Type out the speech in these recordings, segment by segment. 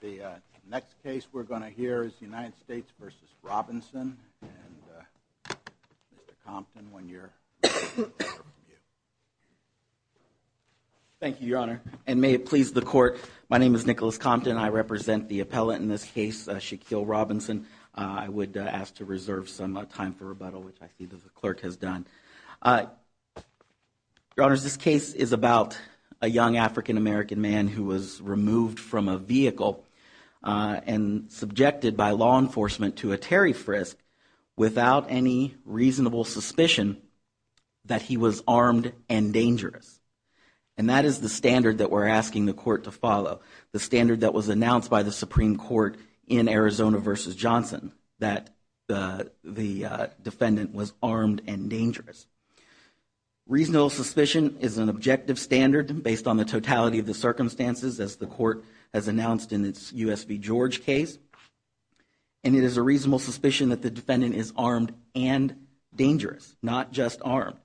The next case we're going to hear is the United States v. Robinson, and Mr. Compton, one year from you. Thank you, Your Honor, and may it please the Court, my name is Nicholas Compton. I represent the appellate in this case, Shaquille Robinson. I would ask to reserve some time for rebuttal, which I see that the clerk has done. Your Honor, this case is about a young African-American man who was removed from a vehicle and subjected by law enforcement to a Terry frisk without any reasonable suspicion that he was armed and dangerous. And that is the standard that we're asking the Court to follow, the standard that was announced by the Supreme Court in Arizona v. Johnson, that the defendant was armed and dangerous. Reasonable suspicion is an objective standard based on the totality of the circumstances as the Court has announced in its U.S. v. George case. And it is a reasonable suspicion that the defendant is armed and dangerous, not just armed.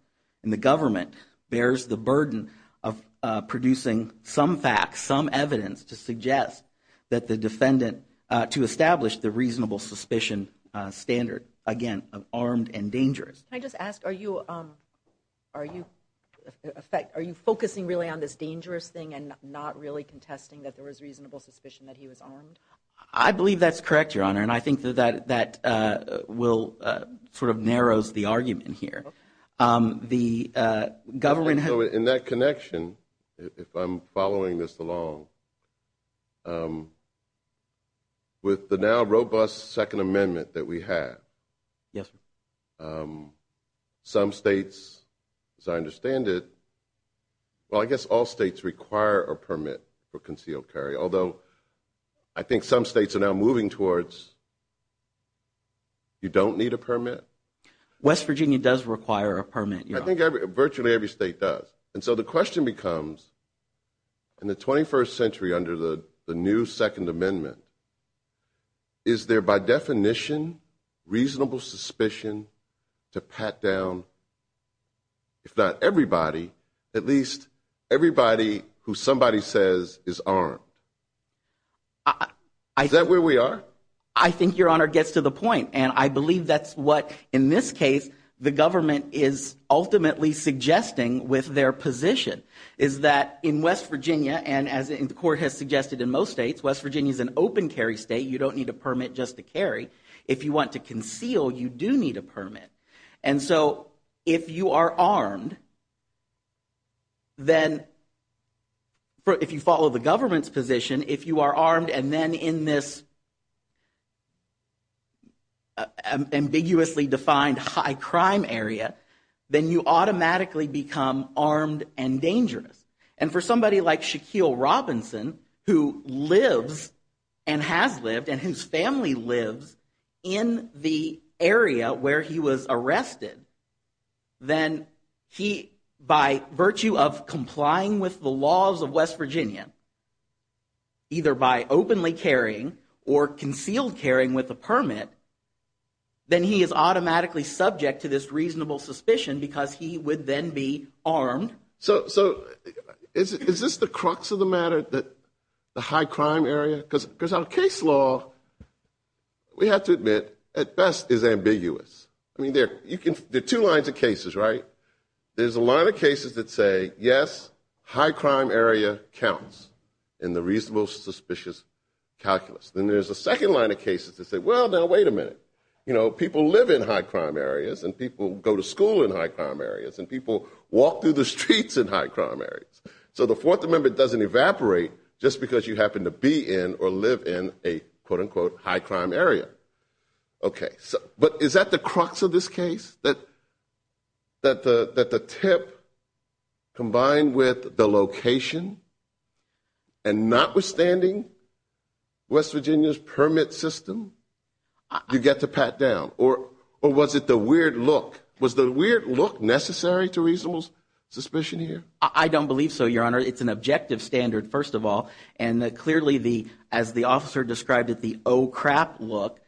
And the government bears the burden of producing some facts, some evidence to suggest that the defendant, to establish the reasonable suspicion standard, again, of armed and dangerous. Can I just ask, are you focusing really on this dangerous thing and not really contesting that there was reasonable suspicion that he was armed? I believe that's correct, Your Honor, and I think that that will sort of narrows the argument here. The government has In that connection, if I'm following this along, with the now robust Second Amendment that we have, some states, as I understand it, well, I guess all states require a permit for concealed carry. Although I think some states are now moving towards you don't need a permit. West Virginia does require a permit. I think virtually every state does. And so the question becomes, in the 21st century under the new Second Amendment, is there by definition reasonable suspicion to pat down, if not everybody, at least everybody who somebody says is armed? Is that where we are? I think Your Honor gets to the point, and I believe that's what, in this case, the government is ultimately suggesting with their position, is that in West Virginia, and as the court has suggested in most states, West Virginia is an open carry state. You don't need a permit just to carry. If you want to conceal, you do need a permit. And so if you are armed, then if you follow the government's position, if you are armed and then in this ambiguously defined high crime area, then you automatically become armed and dangerous. And for somebody like Shaquille Robinson, who lives and has lived and whose family lives in the area where he was arrested, then he, by virtue of complying with the laws of West Virginia, either by openly carrying or concealed carrying with a permit, then he is automatically subject to this reasonable suspicion because he would then be armed. So is this the crux of the matter, the high crime area? Because our case law, we have to admit, at best is ambiguous. I mean, there are two lines of cases, right? There's a line of cases that say, yes, high crime area counts in the reasonable suspicious calculus. Then there's a second line of cases that say, well, now, wait a minute. You know, people live in high crime areas and people go to school in high crime areas and people walk through the streets in high crime areas. So the Fourth Amendment doesn't evaporate just because you happen to be in or live in a, quote, unquote, high crime area. OK, but is that the crux of this case, that the tip combined with the location and notwithstanding West Virginia's permit system, you get to pat down? Or was it the weird look? Was the weird look necessary to reasonable suspicion here? I don't believe so, Your Honor. It's an objective standard, first of all. And clearly, as the officer described it, the oh, crap look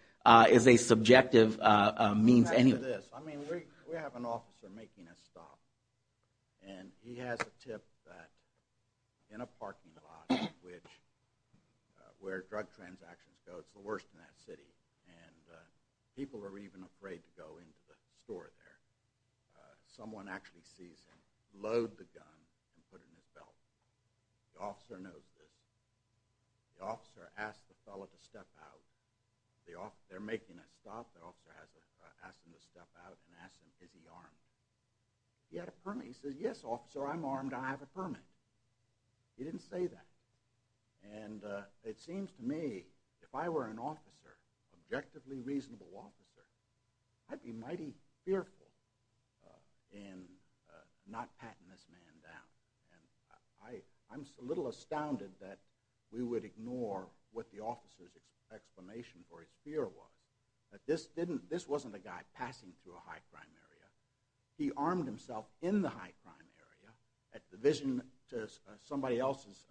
is a subjective means anyway. I mean, we have an officer making a stop. And he has a tip that in a parking lot where drug transactions go, it's the worst in that city. And people are even afraid to go into the store there. Someone actually sees him load the gun and put it in his belt. The officer knows this. The officer asks the fellow to step out. They're making a stop. The officer asks him to step out and asks him, is he armed? He had a permit. He says, yes, officer, I'm armed. I have a permit. He didn't say that. And it seems to me if I were an officer, objectively reasonable officer, I'd be mighty fearful in not patting this man down. And I'm a little astounded that we would ignore what the officer's explanation for his fear was, that this wasn't a guy passing through a high-crime area. He armed himself in the high-crime area at the vision to somebody else's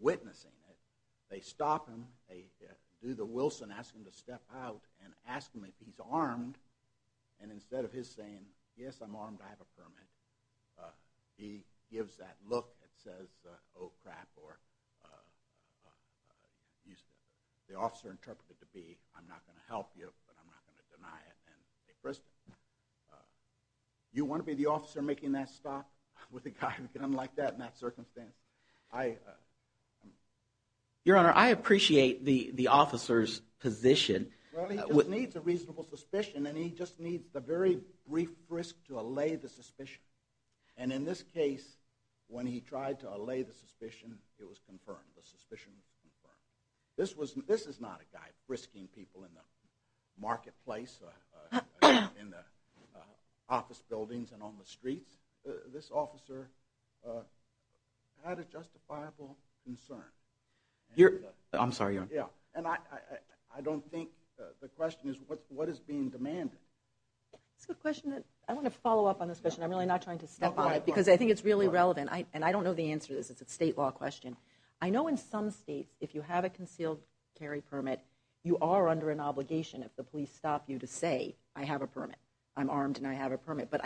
witnessing it. They stop him. They do the Wilson, ask him to step out and ask him if he's armed. And instead of his saying, yes, I'm armed, I have a permit, he gives that look that says, oh, crap, or the officer interpreted it to be, I'm not going to help you, but I'm not going to deny it. And they frisk him. You want to be the officer making that stop with a guy looking like that in that circumstance? Your Honor, I appreciate the officer's position. Well, he just needs a reasonable suspicion, and he just needs a very brief frisk to allay the suspicion. And in this case, when he tried to allay the suspicion, it was confirmed. The suspicion was confirmed. This is not a guy frisking people in the marketplace or in the office buildings and on the streets. This officer had a justifiable concern. I'm sorry, Your Honor. I don't think the question is what is being demanded. I want to follow up on this question. I'm really not trying to step on it because I think it's really relevant. And I don't know the answer to this. It's a state law question. I know in some states, if you have a concealed carry permit, you are under an obligation, if the police stop you, to say, I have a permit, I'm armed and I have a permit. But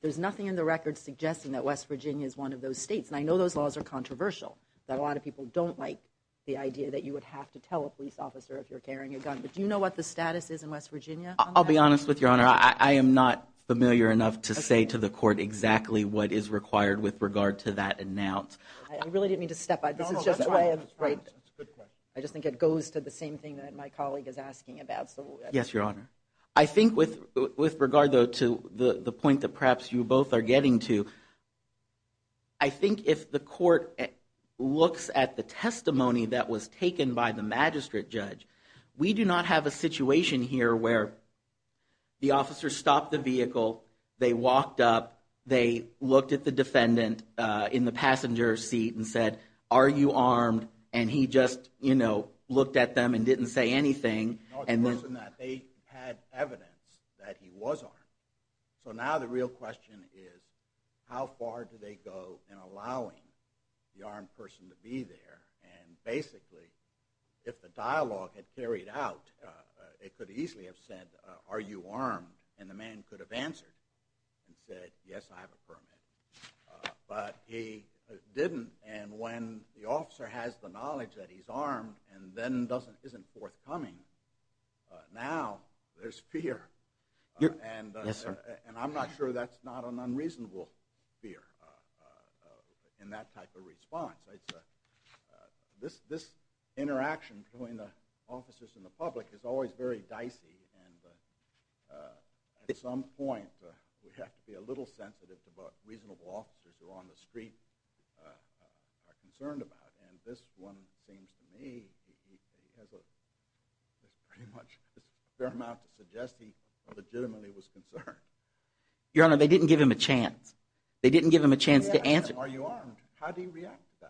there's nothing in the record suggesting that West Virginia is one of those states. And I know those laws are controversial. A lot of people don't like the idea that you would have to tell a police officer if you're carrying a gun. But do you know what the status is in West Virginia? I'll be honest with you, Your Honor. I am not familiar enough to say to the court exactly what is required with regard to that announce. I really didn't mean to step on it. I just think it goes to the same thing that my colleague is asking about. Yes, Your Honor. I think with regard, though, to the point that perhaps you both are getting to, I think if the court looks at the testimony that was taken by the magistrate judge, we do not have a situation here where the officer stopped the vehicle, they walked up, they looked at the defendant in the passenger seat and said, are you armed? And he just, you know, looked at them and didn't say anything. They had evidence that he was armed. So now the real question is, how far do they go in allowing the armed person to be there? And basically, if the dialogue had carried out, it could easily have said, are you armed? And the man could have answered and said, yes, I have a permit. But he didn't. And when the officer has the knowledge that he's armed and then isn't forthcoming, now there's fear. And I'm not sure that's not an unreasonable fear in that type of response. This interaction between the officers and the public is always very dicey. And at some point, we have to be a little sensitive to what reasonable officers who are on the street are concerned about. And this one seems to me he has pretty much a fair amount to suggest he legitimately was concerned. Your Honor, they didn't give him a chance. They didn't give him a chance to answer. Are you armed? How do you react to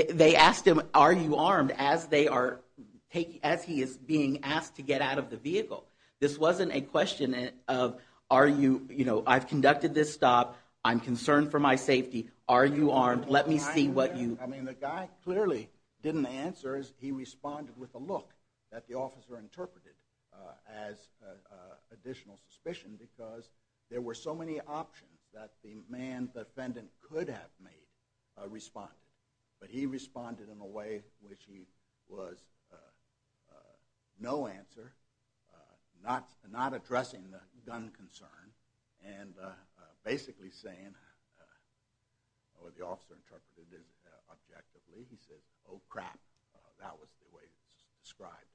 that? They asked him, are you armed, as he is being asked to get out of the vehicle. This wasn't a question of, I've conducted this stop. I'm concerned for my safety. Are you armed? Let me see what you do. I mean, the guy clearly didn't answer. He responded with a look that the officer interpreted as additional suspicion because there were so many options that the man defendant could have made responded. But he responded in a way which he was no answer, not addressing the gun concern, and basically saying what the officer interpreted as objectively. He said, oh, crap. That was the way he described it.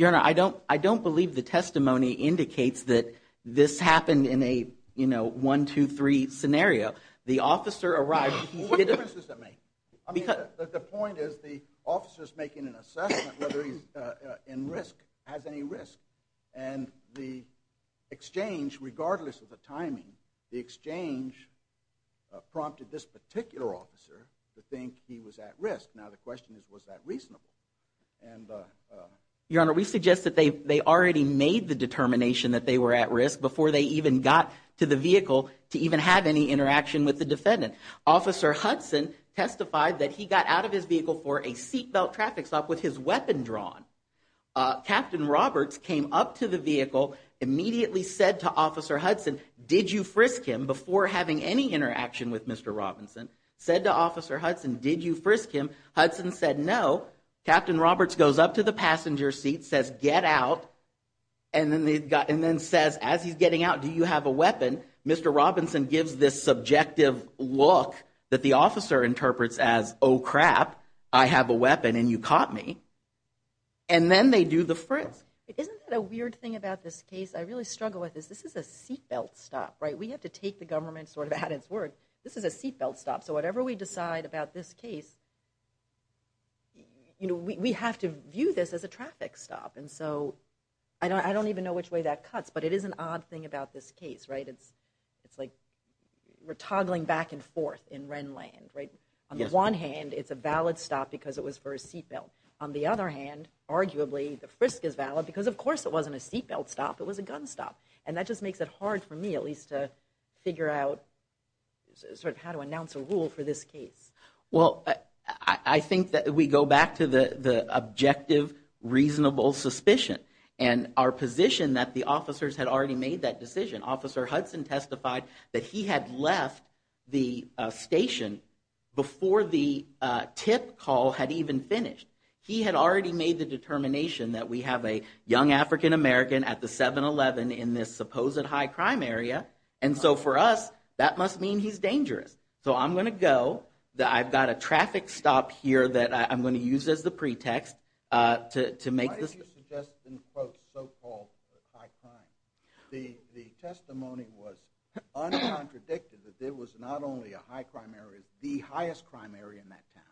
Your Honor, I don't believe the testimony indicates that this happened in a one, two, three scenario. The officer arrived. What difference does that make? The point is the officer is making an assessment whether he's in risk, has any risk. And the exchange, regardless of the timing, the exchange prompted this particular officer to think he was at risk. Now the question is, was that reasonable? Your Honor, we suggest that they already made the determination that they were at risk before they even got to the vehicle to even have any interaction with the defendant. Officer Hudson testified that he got out of his vehicle for a seat belt traffic stop with his weapon drawn. Captain Roberts came up to the vehicle, immediately said to Officer Hudson, did you frisk him before having any interaction with Mr. Robinson? Said to Officer Hudson, did you frisk him? Hudson said, no. Captain Roberts goes up to the passenger seat, says, get out. And then says, as he's getting out, do you have a weapon? Mr. Robinson gives this subjective look that the officer interprets as, oh, crap. I have a weapon and you caught me. And then they do the frisk. Isn't that a weird thing about this case? I really struggle with this. This is a seat belt stop, right? We have to take the government sort of at its word. This is a seat belt stop. So whatever we decide about this case, we have to view this as a traffic stop. And so I don't even know which way that cuts. But it is an odd thing about this case, right? It's like we're toggling back and forth in Wren land, right? On the one hand, it's a valid stop because it was for a seat belt. On the other hand, arguably the frisk is valid because, of course, it wasn't a seat belt stop. It was a gun stop. And that just makes it hard for me at least to figure out sort of how to announce a rule for this case. Well, I think that we go back to the objective, reasonable suspicion and our position that the officers had already made that decision. Officer Hudson testified that he had left the station before the tip call had even finished. He had already made the determination that we have a young African-American at the 7-11 in this supposed high crime area. And so for us, that must mean he's dangerous. So I'm going to go. I've got a traffic stop here that I'm going to use as the pretext to make this. Why did you suggest in quotes so-called high crime? The testimony was uncontradicted that there was not only a high crime area, the highest crime area in that town.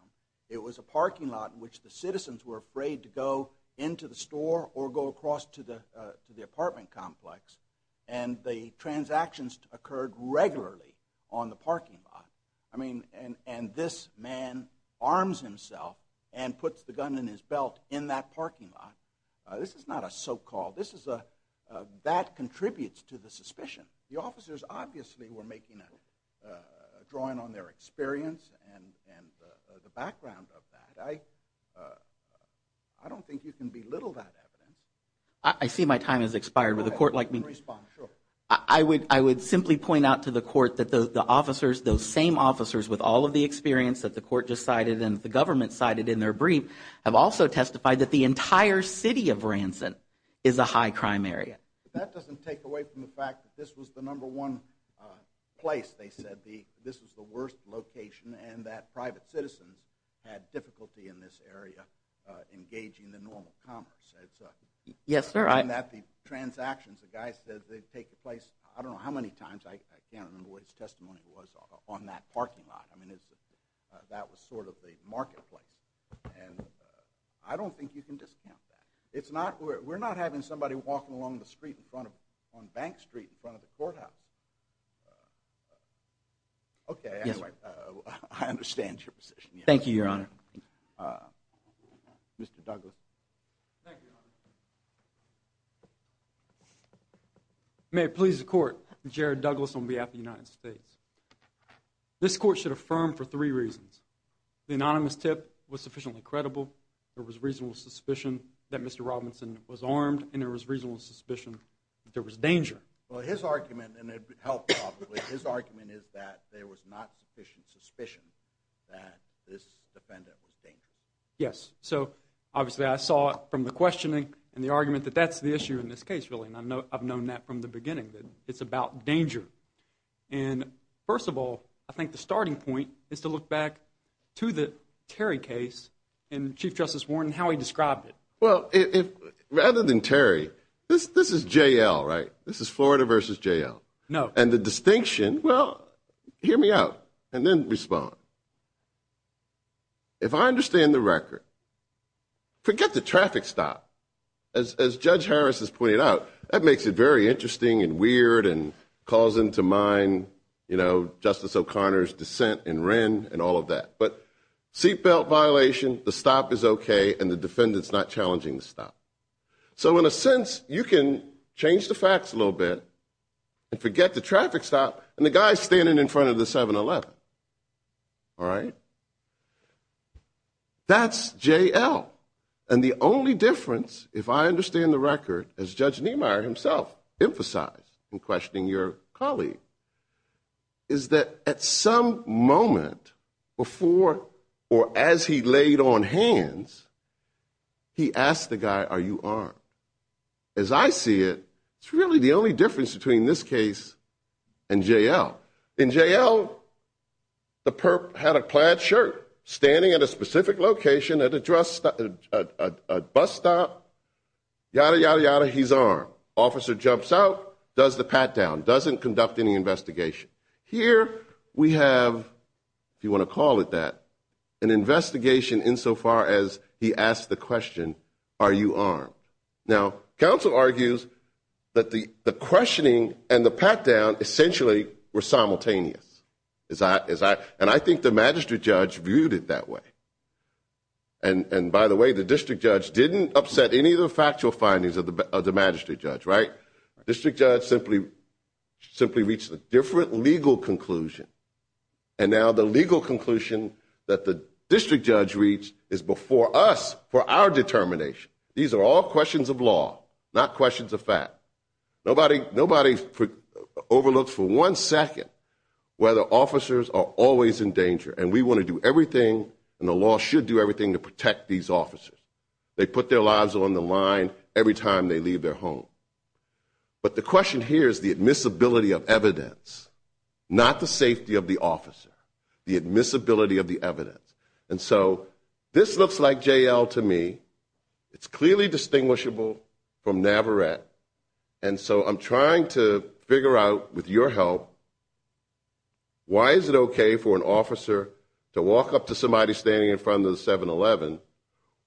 It was a parking lot in which the citizens were afraid to go into the store or go across to the apartment complex. And the transactions occurred regularly on the parking lot. I mean, and this man arms himself and puts the gun in his belt in that parking lot. This is not a so-called. That contributes to the suspicion. The officers obviously were making a drawing on their experience and the background of that. I don't think you can belittle that evidence. I see my time has expired with a court like me. I would I would simply point out to the court that the officers, those same officers with all of the experience that the court decided and the government cited in their brief, have also testified that the entire city of Ranson is a high crime area. But that doesn't take away from the fact that this was the number one place. They said this was the worst location and that private citizens had difficulty in this area engaging the normal commerce. Yes, sir. And that the transactions, the guy said they'd take the place. I don't know how many times. I can't remember what his testimony was on that parking lot. I mean, that was sort of the marketplace. And I don't think you can discount that. We're not having somebody walking along the street on Bank Street in front of the courthouse. OK, I understand your position. Thank you, Your Honor. Mr. Douglas. Thank you, Your Honor. May it please the court, Jared Douglas on behalf of the United States. This court should affirm for three reasons. The anonymous tip was sufficiently credible. There was reasonable suspicion that Mr. Robinson was armed. And there was reasonable suspicion that there was danger. Well, his argument, and it helped probably, his argument is that there was not sufficient suspicion that this defendant was dangerous. Yes. So, obviously, I saw it from the questioning and the argument that that's the issue in this case, really. And I've known that from the beginning, that it's about danger. And, first of all, I think the starting point is to look back to the Terry case and Chief Justice Warren and how he described it. Well, rather than Terry, this is J.L., right? This is Florida versus J.L. No. And the distinction, well, hear me out and then respond. If I understand the record, forget the traffic stop. As Judge Harris has pointed out, that makes it very interesting and weird and calls into mind, you know, Justice O'Connor's dissent in Wren and all of that. But seatbelt violation, the stop is okay, and the defendant's not challenging the stop. So, in a sense, you can change the facts a little bit and forget the traffic stop and the guy standing in front of the 7-Eleven. All right? That's J.L. And the only difference, if I understand the record, as Judge Niemeyer himself emphasized in questioning your colleague, is that at some moment before or as he laid on hands, he asked the guy, are you armed? As I see it, it's really the only difference between this case and J.L. In J.L., the perp had a plaid shirt, standing at a specific location at a bus stop, yada, yada, yada, he's armed. Officer jumps out, does the pat-down, doesn't conduct any investigation. Here we have, if you want to call it that, an investigation insofar as he asks the question, are you armed? Now, counsel argues that the questioning and the pat-down essentially were simultaneous. And I think the magistrate judge viewed it that way. And, by the way, the district judge didn't upset any of the factual findings of the magistrate judge, right? District judge simply reached a different legal conclusion. And now the legal conclusion that the district judge reached is before us for our determination. These are all questions of law, not questions of fact. Nobody overlooks for one second whether officers are always in danger. And we want to do everything and the law should do everything to protect these officers. They put their lives on the line every time they leave their home. But the question here is the admissibility of evidence, not the safety of the officer. The admissibility of the evidence. And so this looks like J.L. to me. It's clearly distinguishable from Navarette. And so I'm trying to figure out, with your help, why is it okay for an officer to walk up to somebody standing in front of the 7-Eleven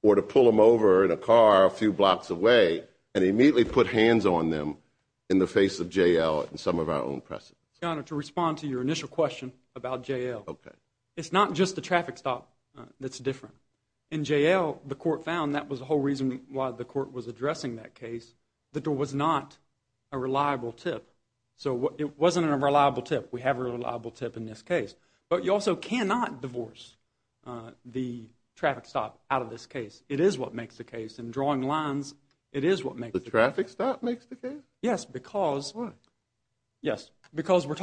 or to pull them over in a car a few blocks away and immediately put hands on them in the face of J.L. and some of our own precedents? Your Honor, to respond to your initial question about J.L. Okay. It's not just the traffic stop that's different. In J.L., the court found that was the whole reason why the court was addressing that case, that there was not a reliable tip. So it wasn't a reliable tip. We have a reliable tip in this case. But you also cannot divorce the traffic stop out of this case. It is what makes the case. In drawing lines, it is what makes the case. The traffic stop makes the case? Yes, because. Why? Yes, because when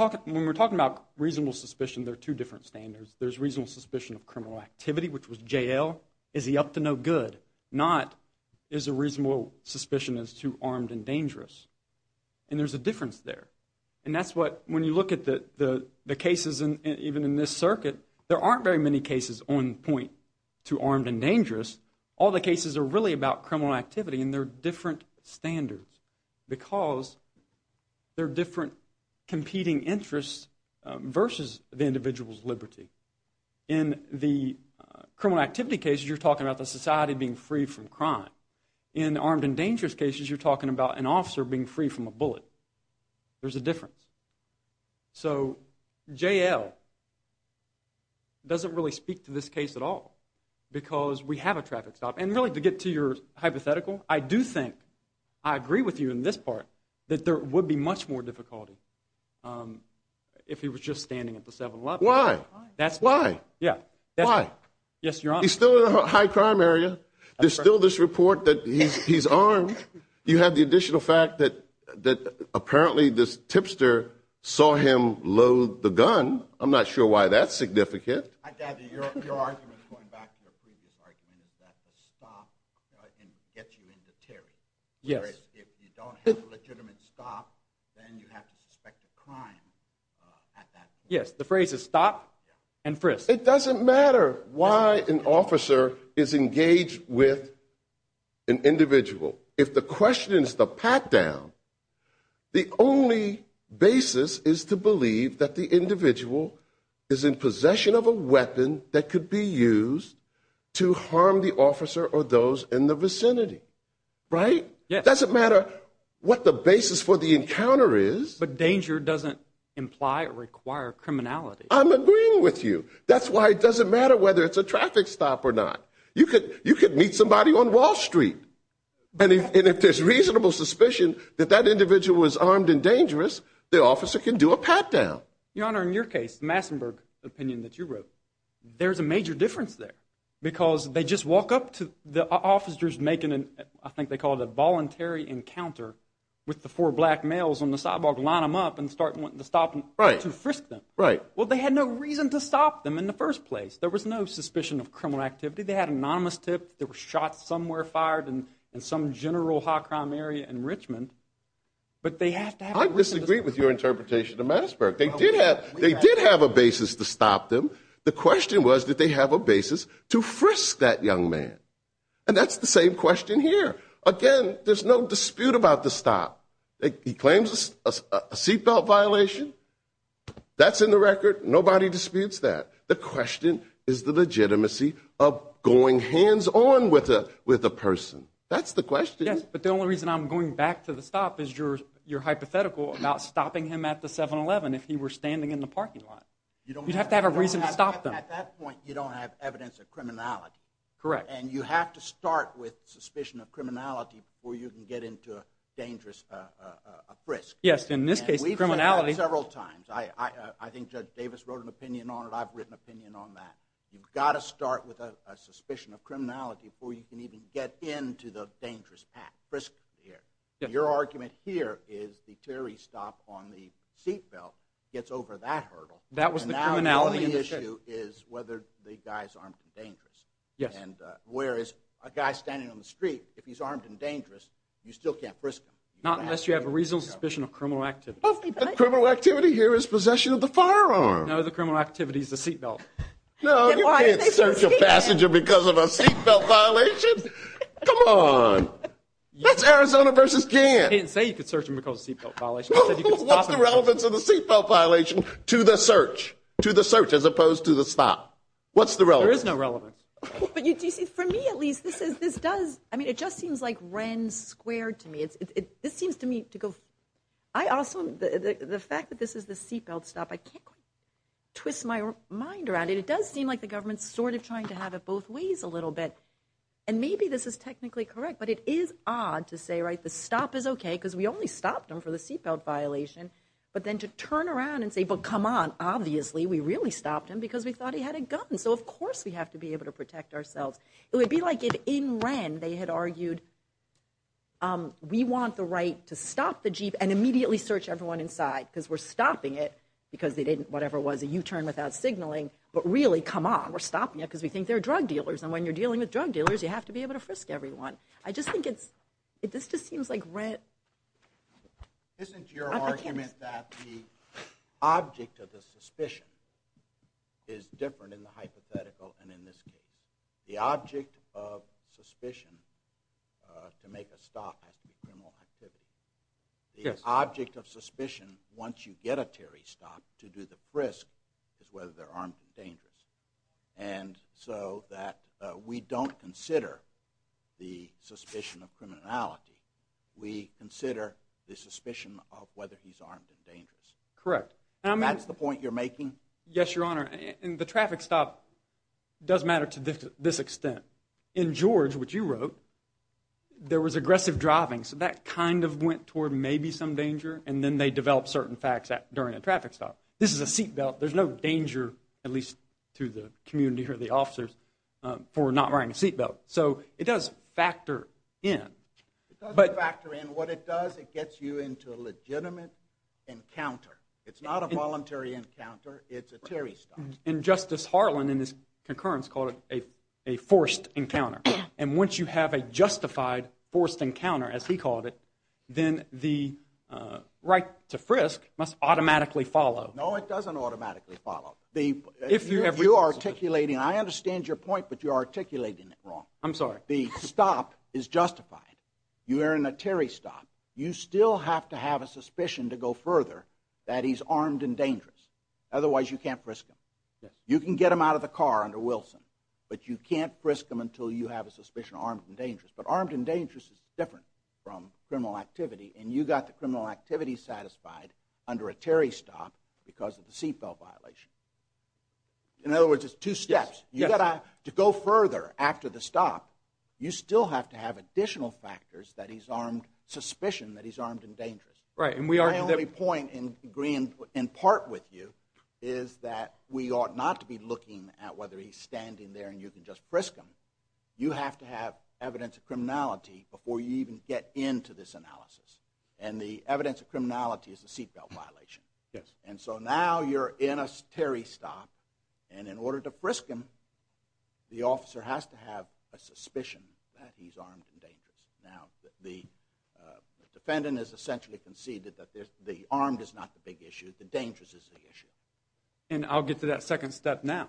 we're talking about reasonable suspicion, there are two different standards. There's reasonable suspicion of criminal activity, which was J.L. Is he up to no good? Not is a reasonable suspicion as to armed and dangerous. And there's a difference there. And that's what, when you look at the cases even in this circuit, there aren't very many cases on point to armed and dangerous. All the cases are really about criminal activity, and they're different standards. Because there are different competing interests versus the individual's liberty. In the criminal activity cases, you're talking about the society being free from crime. In the armed and dangerous cases, you're talking about an officer being free from a bullet. There's a difference. So J.L. doesn't really speak to this case at all because we have a traffic stop. And really, to get to your hypothetical, I do think, I agree with you in this part, that there would be much more difficulty if he was just standing at the 7-11. Why? That's why. Why? Yes, Your Honor. He's still in a high-crime area. There's still this report that he's armed. You have the additional fact that apparently this tipster saw him load the gun. I'm not sure why that's significant. I gather your argument, going back to your previous argument, is that the stop can get you into Terry. Yes. Whereas if you don't have a legitimate stop, then you have to suspect a crime at that point. Yes, the phrase is stop and frisk. It doesn't matter why an officer is engaged with an individual. If the question is the pat-down, the only basis is to believe that the individual is in possession of a weapon that could be used to harm the officer or those in the vicinity. Right? Yes. It doesn't matter what the basis for the encounter is. But danger doesn't imply or require criminality. I'm agreeing with you. That's why it doesn't matter whether it's a traffic stop or not. You could meet somebody on Wall Street, and if there's reasonable suspicion that that individual was armed and dangerous, the officer can do a pat-down. Your Honor, in your case, the Massenburg opinion that you wrote, there's a major difference there because they just walk up to the officers making, I think they call it a voluntary encounter, with the four black males on the sidewalk, line them up, and start wanting to stop them to frisk them. Well, they had no reason to stop them in the first place. There was no suspicion of criminal activity. They had anonymous tips. They were shot somewhere, fired in some general hot crime area in Richmond. But they have to have a reason to stop them. I disagree with your interpretation of Massenburg. They did have a basis to stop them. The question was did they have a basis to frisk that young man. And that's the same question here. Again, there's no dispute about the stop. He claims a seatbelt violation. That's in the record. Nobody disputes that. The question is the legitimacy of going hands-on with a person. That's the question. Yes, but the only reason I'm going back to the stop is your hypothetical about stopping him at the 7-Eleven if he were standing in the parking lot. You'd have to have a reason to stop them. At that point, you don't have evidence of criminality. Correct. And you have to start with suspicion of criminality before you can get into a dangerous frisk. Yes, in this case, criminality. I've said it several times. I think Judge Davis wrote an opinion on it. I've written an opinion on that. You've got to start with a suspicion of criminality before you can even get into the dangerous frisk here. Your argument here is the theory stop on the seatbelt gets over that hurdle. That was the criminality. And now the only issue is whether the guy's armed and dangerous. Yes. And whereas a guy standing on the street, if he's armed and dangerous, you still can't frisk him. Not unless you have a reasonable suspicion of criminal activity. The criminal activity here is possession of the firearm. No, the criminal activity is the seatbelt. No, you can't search a passenger because of a seatbelt violation. Come on. That's Arizona versus Jan. I didn't say you could search him because of a seatbelt violation. I said you could stop him. What's the relevance of the seatbelt violation to the search, to the search as opposed to the stop? What's the relevance? There is no relevance. But you see, for me at least, this does, I mean, it just seems like Rennes squared to me. This seems to me to go, I also, the fact that this is the seatbelt stop, I can't quite twist my mind around it. It does seem like the government's sort of trying to have it both ways a little bit. And maybe this is technically correct. But it is odd to say, right, the stop is okay because we only stopped him for the seatbelt violation. But then to turn around and say, but come on, obviously we really stopped him because we thought he had a gun. So, of course, we have to be able to protect ourselves. It would be like if in Rennes they had argued we want the right to stop the Jeep and immediately search everyone inside because we're stopping it because they didn't, whatever it was, a U-turn without signaling. But really, come on, we're stopping it because we think they're drug dealers. And when you're dealing with drug dealers, you have to be able to frisk everyone. I just think it's, this just seems like Rennes. Isn't your argument that the object of the suspicion is different in the hypothetical and in this case? The object of suspicion to make a stop has to be criminal activity. Yes. The object of suspicion once you get a Terry stop to do the frisk is whether they're armed and dangerous. And so that we don't consider the suspicion of criminality. We consider the suspicion of whether he's armed and dangerous. Correct. That's the point you're making? Yes, Your Honor. And the traffic stop does matter to this extent. In George, which you wrote, there was aggressive driving, so that kind of went toward maybe some danger and then they developed certain facts during a traffic stop. This is a seat belt. There's no danger, at least to the community or the officers, for not wearing a seat belt. So it does factor in. It does factor in. What it does, it gets you into a legitimate encounter. It's not a voluntary encounter. It's a Terry stop. And Justice Harlan, in his concurrence, called it a forced encounter. And once you have a justified forced encounter, as he called it, then the right to frisk must automatically follow. No, it doesn't automatically follow. If you're articulating, and I understand your point, but you're articulating it wrong. I'm sorry. The stop is justified. You're in a Terry stop. You still have to have a suspicion to go further that he's armed and dangerous. Otherwise, you can't frisk him. You can get him out of the car under Wilson, but you can't frisk him until you have a suspicion of armed and dangerous. But armed and dangerous is different from criminal activity, and you got the criminal activity satisfied under a Terry stop because of the seat belt violation. In other words, it's two steps. To go further after the stop, you still have to have additional factors that he's armed, suspicion that he's armed and dangerous. My only point in agreeing in part with you is that we ought not to be looking at whether he's standing there and you can just frisk him. You have to have evidence of criminality before you even get into this analysis. And the evidence of criminality is the seat belt violation. Yes. And so now you're in a Terry stop, and in order to frisk him, the officer has to have a suspicion that he's armed and dangerous. Now, the defendant has essentially conceded that the armed is not the big issue. The dangerous is the issue. And I'll get to that second step now.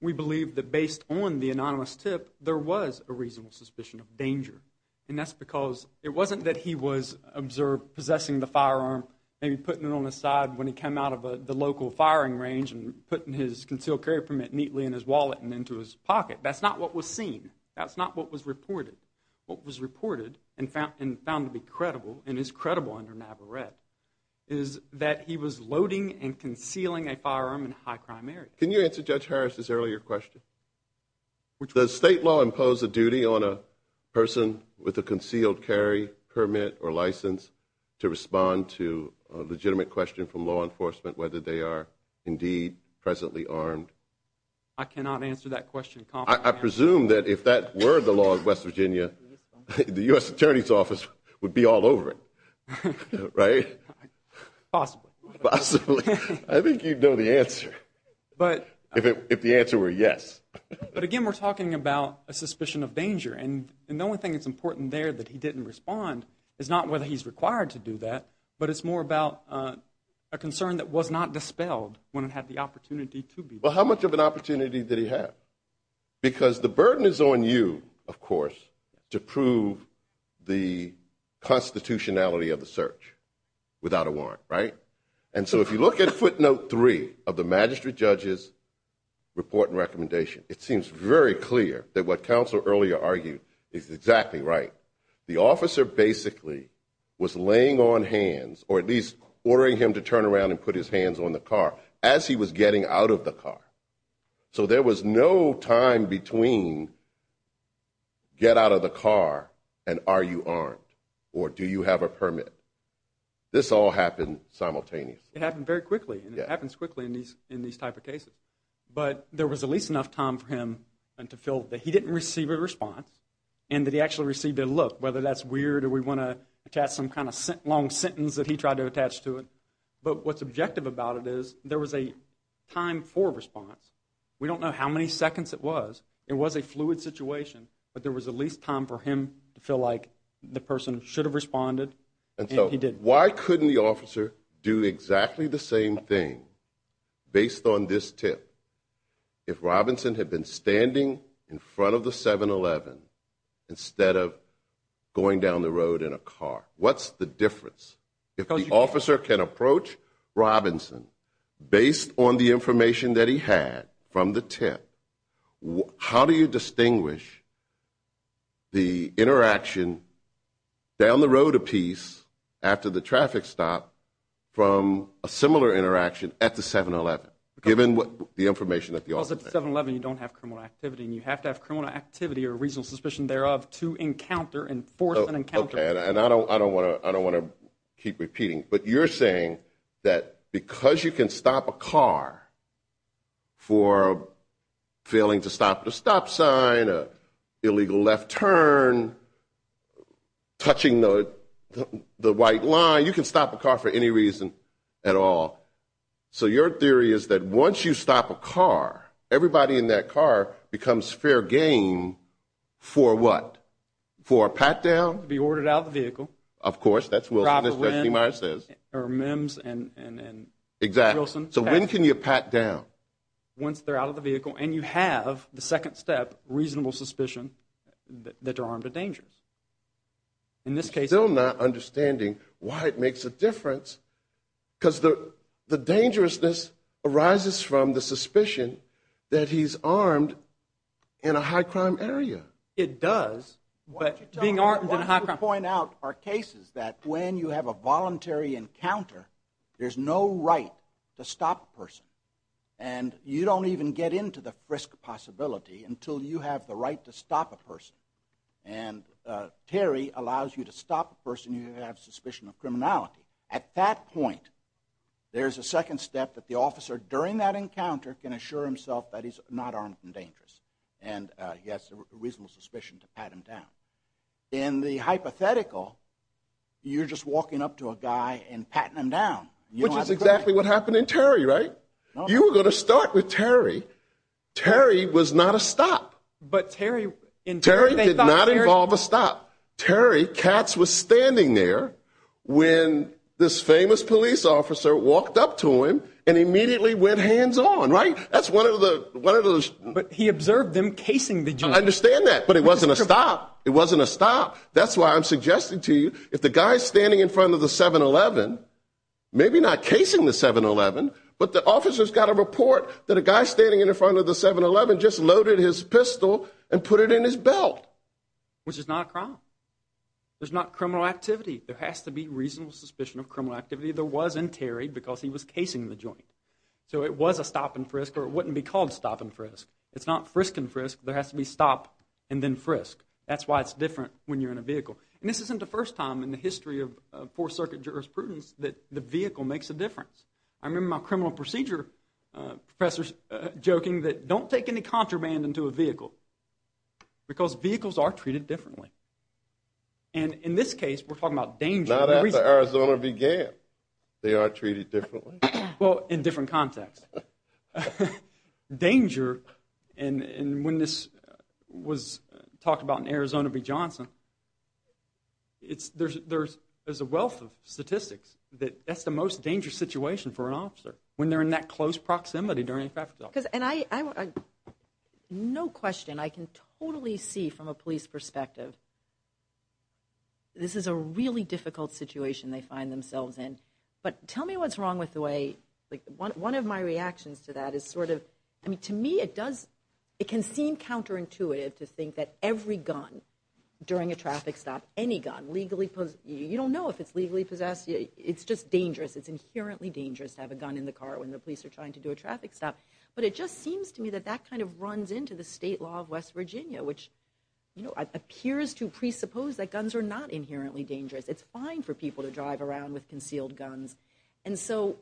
We believe that based on the anonymous tip, there was a reasonable suspicion of danger, and that's because it wasn't that he was observed possessing the firearm and putting it on the side when he came out of the local firing range and putting his concealed carry permit neatly in his wallet and into his pocket. That's not what was seen. That's not what was reported. What was reported and found to be credible and is credible under NAVARETTE is that he was loading and concealing a firearm in a high-crime area. Can you answer Judge Harris' earlier question? Does state law impose a duty on a person with a concealed carry permit or license to respond to a legitimate question from law enforcement whether they are indeed presently armed? I cannot answer that question confidently. I presume that if that were the law of West Virginia, the U.S. Attorney's Office would be all over it, right? Possibly. Possibly. I think you'd know the answer if the answer were yes. But again, we're talking about a suspicion of danger, and the only thing that's important there that he didn't respond is not whether he's required to do that, but it's more about a concern that was not dispelled when it had the opportunity to be. Well, how much of an opportunity did he have? Because the burden is on you, of course, to prove the constitutionality of the search without a warrant, right? And so if you look at footnote three of the magistrate judge's report and recommendation, it seems very clear that what counsel earlier argued is exactly right. The officer basically was laying on hands or at least ordering him to turn around and put his hands on the car as he was getting out of the car. So there was no time between get out of the car and are you armed or do you have a permit. This all happened simultaneously. It happened very quickly, and it happens quickly in these type of cases. But there was at least enough time for him to feel that he didn't receive a response and that he actually received a look, whether that's weird or we want to attach some kind of long sentence that he tried to attach to it. But what's objective about it is there was a time for response. We don't know how many seconds it was. It was a fluid situation, but there was at least time for him to feel like the person should have responded. And so why couldn't the officer do exactly the same thing based on this tip if Robinson had been standing in front of the 7-Eleven instead of going down the road in a car? What's the difference? If the officer can approach Robinson based on the information that he had from the tip, how do you distinguish the interaction down the road a piece after the traffic stop from a similar interaction at the 7-Eleven given the information that the officer has? Well, at the 7-Eleven you don't have criminal activity, and you have to have criminal activity or reasonable suspicion thereof to encounter and force an encounter. Okay, and I don't want to keep repeating, but you're saying that because you can stop a car for failing to stop at a stop sign, an illegal left turn, touching the white line, you can stop a car for any reason at all. So your theory is that once you stop a car, everybody in that car becomes fair game for what? For a pat down? To be ordered out of the vehicle. Of course, that's Wilson, as Trustee Meyers says. Or Mims and Wilson. Exactly. So when can you pat down? Once they're out of the vehicle and you have, the second step, reasonable suspicion that they're armed to danger. In this case, they're still not understanding why it makes a difference because the dangerousness arises from the suspicion that he's armed in a high-crime area. It does, but being armed in a high-crime area. I want to point out our cases that when you have a voluntary encounter, there's no right to stop a person. And you don't even get into the frisk possibility until you have the right to stop a person. And Terry allows you to stop a person if you have suspicion of criminality. At that point, there's a second step that the officer, during that encounter, can assure himself that he's not armed and dangerous. And he has a reasonable suspicion to pat him down. In the hypothetical, you're just walking up to a guy and patting him down. Which is exactly what happened in Terry, right? You were going to start with Terry. Terry was not a stop. But Terry, in Terry, they thought Terry. Terry did not involve a stop. Terry Katz was standing there when this famous police officer walked up to him and immediately went hands-on, right? But he observed them casing the joint. I understand that, but it wasn't a stop. It wasn't a stop. That's why I'm suggesting to you, if the guy's standing in front of the 7-Eleven, maybe not casing the 7-Eleven, but the officer's got a report that a guy standing in front of the 7-Eleven just loaded his pistol and put it in his belt. Which is not a crime. There's not criminal activity. There has to be reasonable suspicion of criminal activity. There was in Terry because he was casing the joint. So it was a stop and frisk, or it wouldn't be called stop and frisk. It's not frisk and frisk. There has to be stop and then frisk. That's why it's different when you're in a vehicle. And this isn't the first time in the history of Fourth Circuit jurisprudence that the vehicle makes a difference. I remember my criminal procedure professors joking that don't take any contraband into a vehicle because vehicles are treated differently. And in this case, we're talking about danger. Not after Arizona began, they are treated differently. Well, in different contexts. Danger, and when this was talked about in Arizona v. Johnson, there's a wealth of statistics that that's the most dangerous situation for an officer when they're in that close proximity during a traffic stop. No question I can totally see from a police perspective this is a really difficult situation they find themselves in. But tell me what's wrong with the way, one of my reactions to that is sort of, to me it can seem counterintuitive to think that every gun during a traffic stop, any gun, you don't know if it's legally possessed. It's just dangerous. It's inherently dangerous to have a gun in the car when the police are trying to do a traffic stop. But it just seems to me that that kind of runs into the state law of West Virginia, which appears to presuppose that guns are not inherently dangerous. It's fine for people to drive around with concealed guns. And so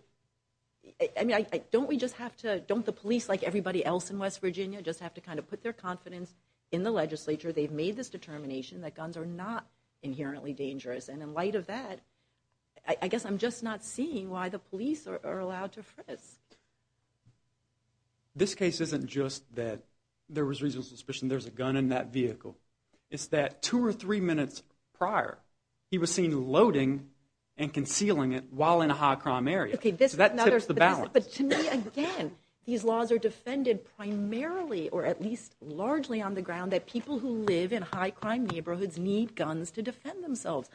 don't the police, like everybody else in West Virginia, just have to kind of put their confidence in the legislature? They've made this determination that guns are not inherently dangerous. And in light of that, I guess I'm just not seeing why the police are allowed to frisk. This case isn't just that there was reasonable suspicion there was a gun in that vehicle. It's that two or three minutes prior, he was seen loading and concealing it while in a high-crime area. So that tips the balance. But to me, again, these laws are defended primarily or at least largely on the ground that people who live in high-crime neighborhoods need guns to defend themselves.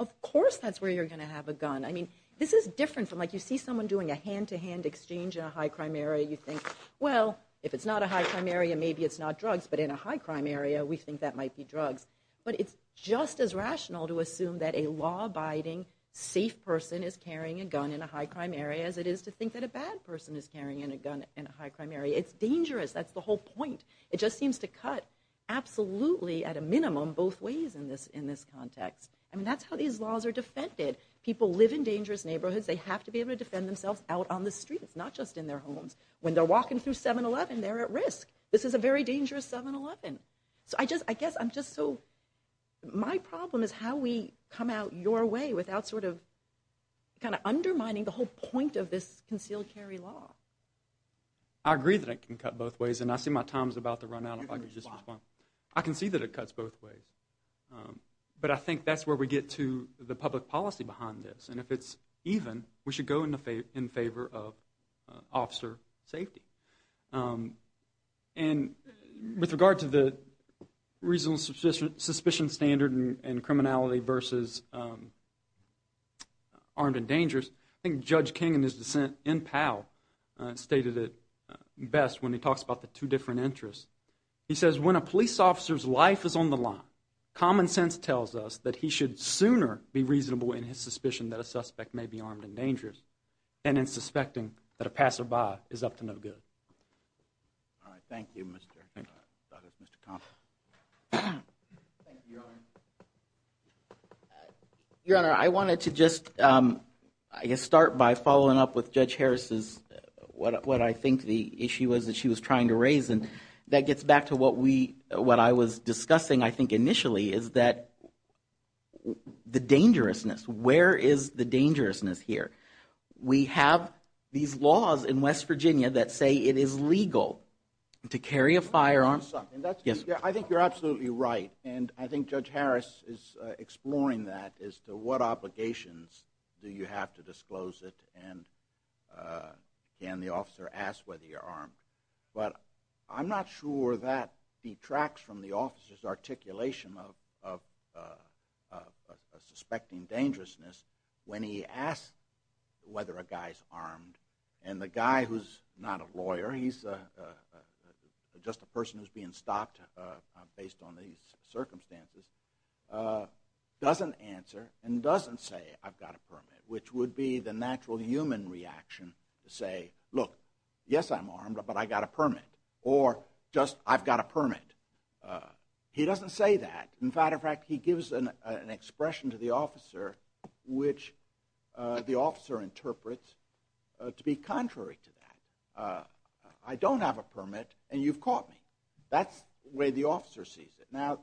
Of course that's where you're going to have a gun. I mean, this is different from like you see someone doing a hand-to-hand exchange in a high-crime area. You think, well, if it's not a high-crime area, maybe it's not drugs. But in a high-crime area, we think that might be drugs. But it's just as rational to assume that a law-abiding, safe person is carrying a gun in a high-crime area as it is to think that a bad person is carrying a gun in a high-crime area. It's dangerous. That's the whole point. It just seems to cut absolutely at a minimum both ways in this context. I mean, that's how these laws are defended. People live in dangerous neighborhoods. They have to be able to defend themselves out on the streets, not just in their homes. When they're walking through 7-Eleven, they're at risk. This is a very dangerous 7-Eleven. So I guess I'm just so – my problem is how we come out your way without sort of kind of undermining the whole point of this concealed carry law. I agree that it can cut both ways, and I see my time is about to run out if I could just respond. I can see that it cuts both ways. But I think that's where we get to the public policy behind this. And if it's even, we should go in favor of officer safety. And with regard to the reasonable suspicion standard and criminality versus armed and dangerous, I think Judge King in his dissent in Powell stated it best when he talks about the two different interests. He says, when a police officer's life is on the line, common sense tells us that he should sooner be reasonable in his suspicion that a suspect may be armed and dangerous than in suspecting that a passerby is up to no good. All right. Thank you, Mr. Thomas. Thank you, Your Honor. Your Honor, I wanted to just, I guess, start by following up with Judge Harris's – what I think the issue was that she was trying to raise. And that gets back to what I was discussing, I think, initially is that the dangerousness. Where is the dangerousness here? We have these laws in West Virginia that say it is legal to carry a firearm. I think you're absolutely right. And I think Judge Harris is exploring that as to what obligations do you have to disclose it and can the officer ask whether you're armed. But I'm not sure that detracts from the officer's articulation of suspecting dangerousness when he asks whether a guy's armed and the guy who's not a lawyer, he's just a person who's being stopped based on these circumstances, doesn't answer and doesn't say, I've got a permit, which would be the natural human reaction to say, look, yes, I'm armed, but I've got a permit. Or just, I've got a permit. He doesn't say that. In fact, he gives an expression to the officer which the officer interprets to be contrary to that. I don't have a permit and you've caught me. That's the way the officer sees it. Now,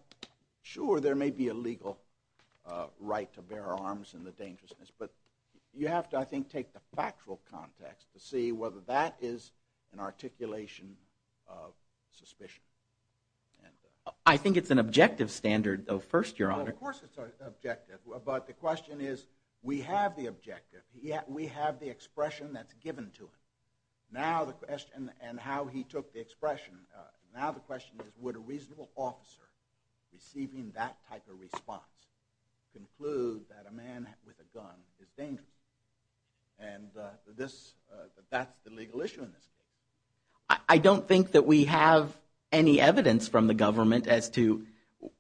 sure, there may be a legal right to bear arms in the dangerousness, but you have to, I think, take the factual context to see whether that is an articulation of suspicion. I think it's an objective standard, though, first, Your Honor. Of course it's objective, but the question is, we have the objective. We have the expression that's given to us. Now the question, and how he took the expression, now the question is would a reasonable officer receiving that type of response conclude that a man with a gun is dangerous? And that's the legal issue in this case. I don't think that we have any evidence from the government as to,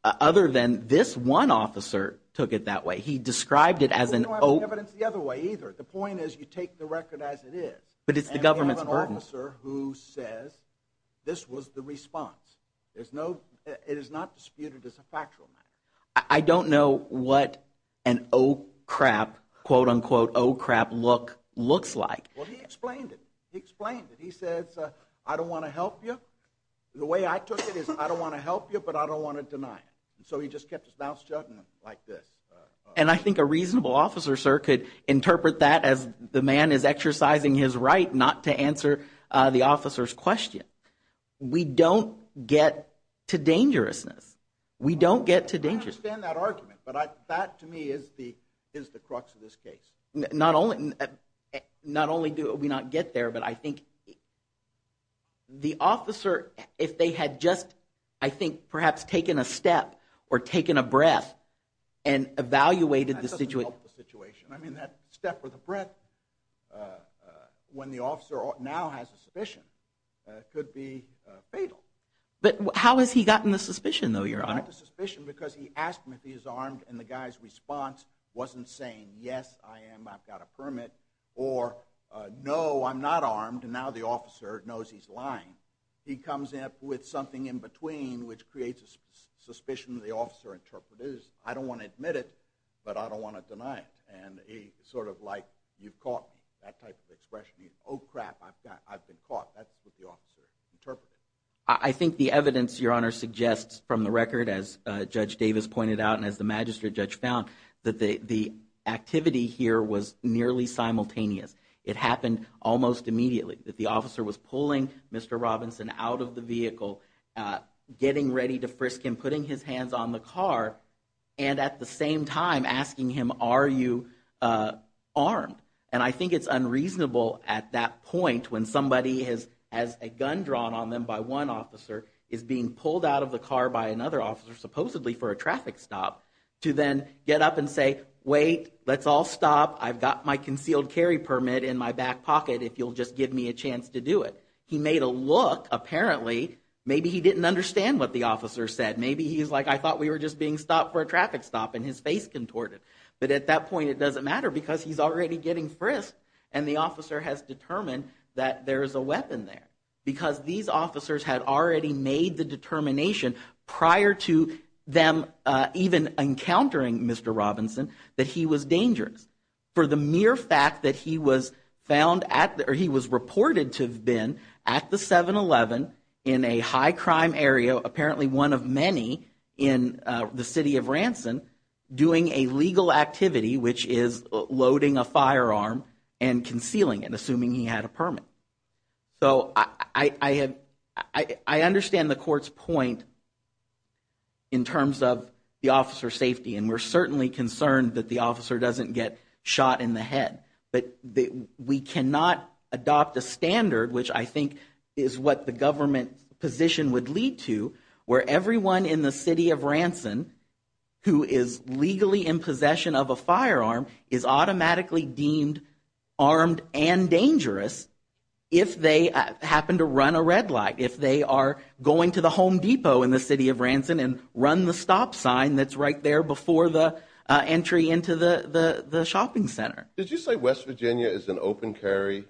other than this one officer took it that way. He described it as an oath. We don't have any evidence the other way either. The point is you take the record as it is. But it's the government's burden. And we have an officer who says this was the response. It is not disputed as a factual matter. I don't know what an, oh, crap, quote, unquote, oh, crap look looks like. Well, he explained it. He explained it. He says, I don't want to help you. The way I took it is I don't want to help you, but I don't want to deny it. So he just kept his mouth shut like this. And I think a reasonable officer, sir, could interpret that as the man is exercising his right not to answer the officer's question. We don't get to dangerousness. We don't get to dangerousness. I understand that argument. But that, to me, is the crux of this case. Not only do we not get there, but I think the officer, if they had just, I think, perhaps taken a step or taken a breath and evaluated the situation. That doesn't help the situation. I mean, that step or the breath when the officer now has a suspicion could be fatal. But how has he gotten the suspicion, though, Your Honor? He got the suspicion because he asked him if he was armed, and the guy's response wasn't saying, yes, I am, I've got a permit, or no, I'm not armed, and now the officer knows he's lying. He comes up with something in between, which creates a suspicion the officer interpreted as, I don't want to admit it, but I don't want to deny it. And he's sort of like, you've caught me, that type of expression. Oh, crap, I've been caught. That's what the officer interpreted. I think the evidence, Your Honor, suggests from the record, as Judge Davis pointed out and as the magistrate judge found, that the activity here was nearly simultaneous. It happened almost immediately. The officer was pulling Mr. Robinson out of the vehicle, getting ready to frisk him, putting his hands on the car, and at the same time asking him, are you armed? And I think it's unreasonable at that point when somebody has a gun drawn on them by one officer, is being pulled out of the car by another officer, supposedly for a traffic stop, to then get up and say, wait, let's all stop. I've got my concealed carry permit in my back pocket if you'll just give me a chance to do it. He made a look, apparently. Maybe he didn't understand what the officer said. Maybe he's like, I thought we were just being stopped for a traffic stop, and his face contorted. But at that point it doesn't matter because he's already getting frisked and the officer has determined that there is a weapon there because these officers had already made the determination prior to them even encountering Mr. Robinson that he was dangerous for the mere fact that he was reported to have been at the 7-Eleven in a high-crime area, apparently one of many in the city of Ranson, doing a legal activity, which is loading a firearm and concealing it, assuming he had a permit. So I understand the court's point in terms of the officer's safety, and we're certainly concerned that the officer doesn't get shot in the head. But we cannot adopt a standard, which I think is what the government position would lead to, where everyone in the city of Ranson who is legally in possession of a firearm is automatically deemed armed and dangerous if they happen to run a red light, if they are going to the Home Depot in the city of Ranson and run the stop sign that's right there before the entry into the shopping center. Did you say West Virginia is an open carry?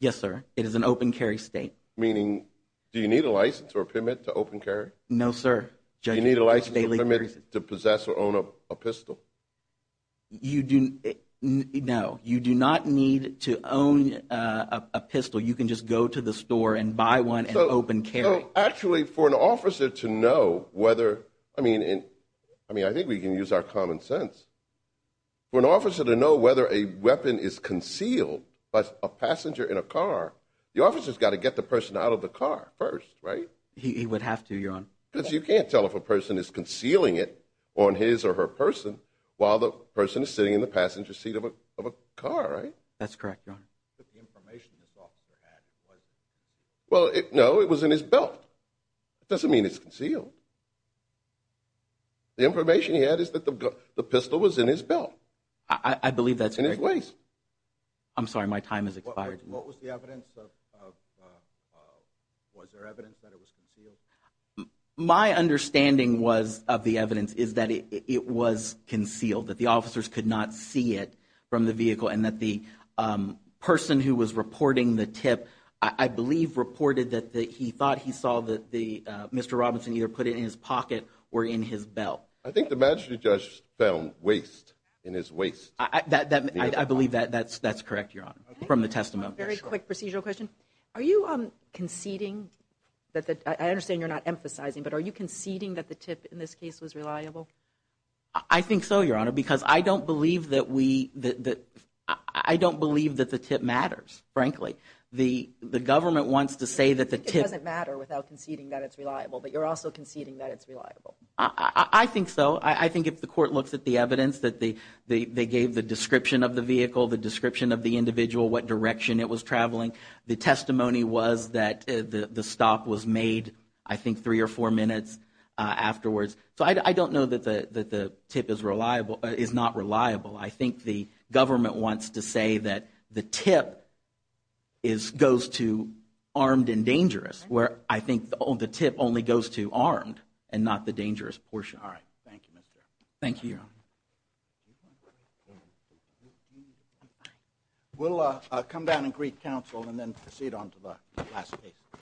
Yes, sir. It is an open carry state. Meaning, do you need a license or a permit to open carry? No, sir. Do you need a license or a permit to possess or own a pistol? No. You do not need to own a pistol. You can just go to the store and buy one and open carry. Actually, for an officer to know whether, I mean, I think we can use our common sense. For an officer to know whether a weapon is concealed by a passenger in a car, the officer's got to get the person out of the car first, right? He would have to, Your Honor. Because you can't tell if a person is concealing it on his or her person while the person is sitting in the passenger seat of a car, right? That's correct, Your Honor. The information this officer had was? Well, no, it was in his belt. It doesn't mean it's concealed. The information he had is that the pistol was in his belt. I believe that's correct. In his waist. I'm sorry. My time has expired. What was the evidence of, was there evidence that it was concealed? My understanding was of the evidence is that it was concealed, that the officers could not see it from the vehicle, and that the person who was reporting the tip, I believe, reported that he thought he saw Mr. Robinson either put it in his pocket or in his belt. I think the magistrate judge found waste in his waist. I believe that's correct, Your Honor, from the testimony. Very quick procedural question. Are you conceding, I understand you're not emphasizing, but are you conceding that the tip in this case was reliable? I think so, Your Honor, because I don't believe that we, I don't believe that the tip matters, frankly. The government wants to say that the tip. It doesn't matter without conceding that it's reliable, but you're also conceding that it's reliable. I think so. I think if the court looks at the evidence that they gave the description of the vehicle, the description of the individual, what direction it was traveling, the testimony was that the stop was made, I think, three or four minutes afterwards. So I don't know that the tip is not reliable. I think the government wants to say that the tip goes to armed and dangerous, where I think the tip only goes to armed and not the dangerous portion. All right. Thank you, Mr. Chairman. Thank you, Your Honor. We'll come down and greet counsel and then proceed on to the last case.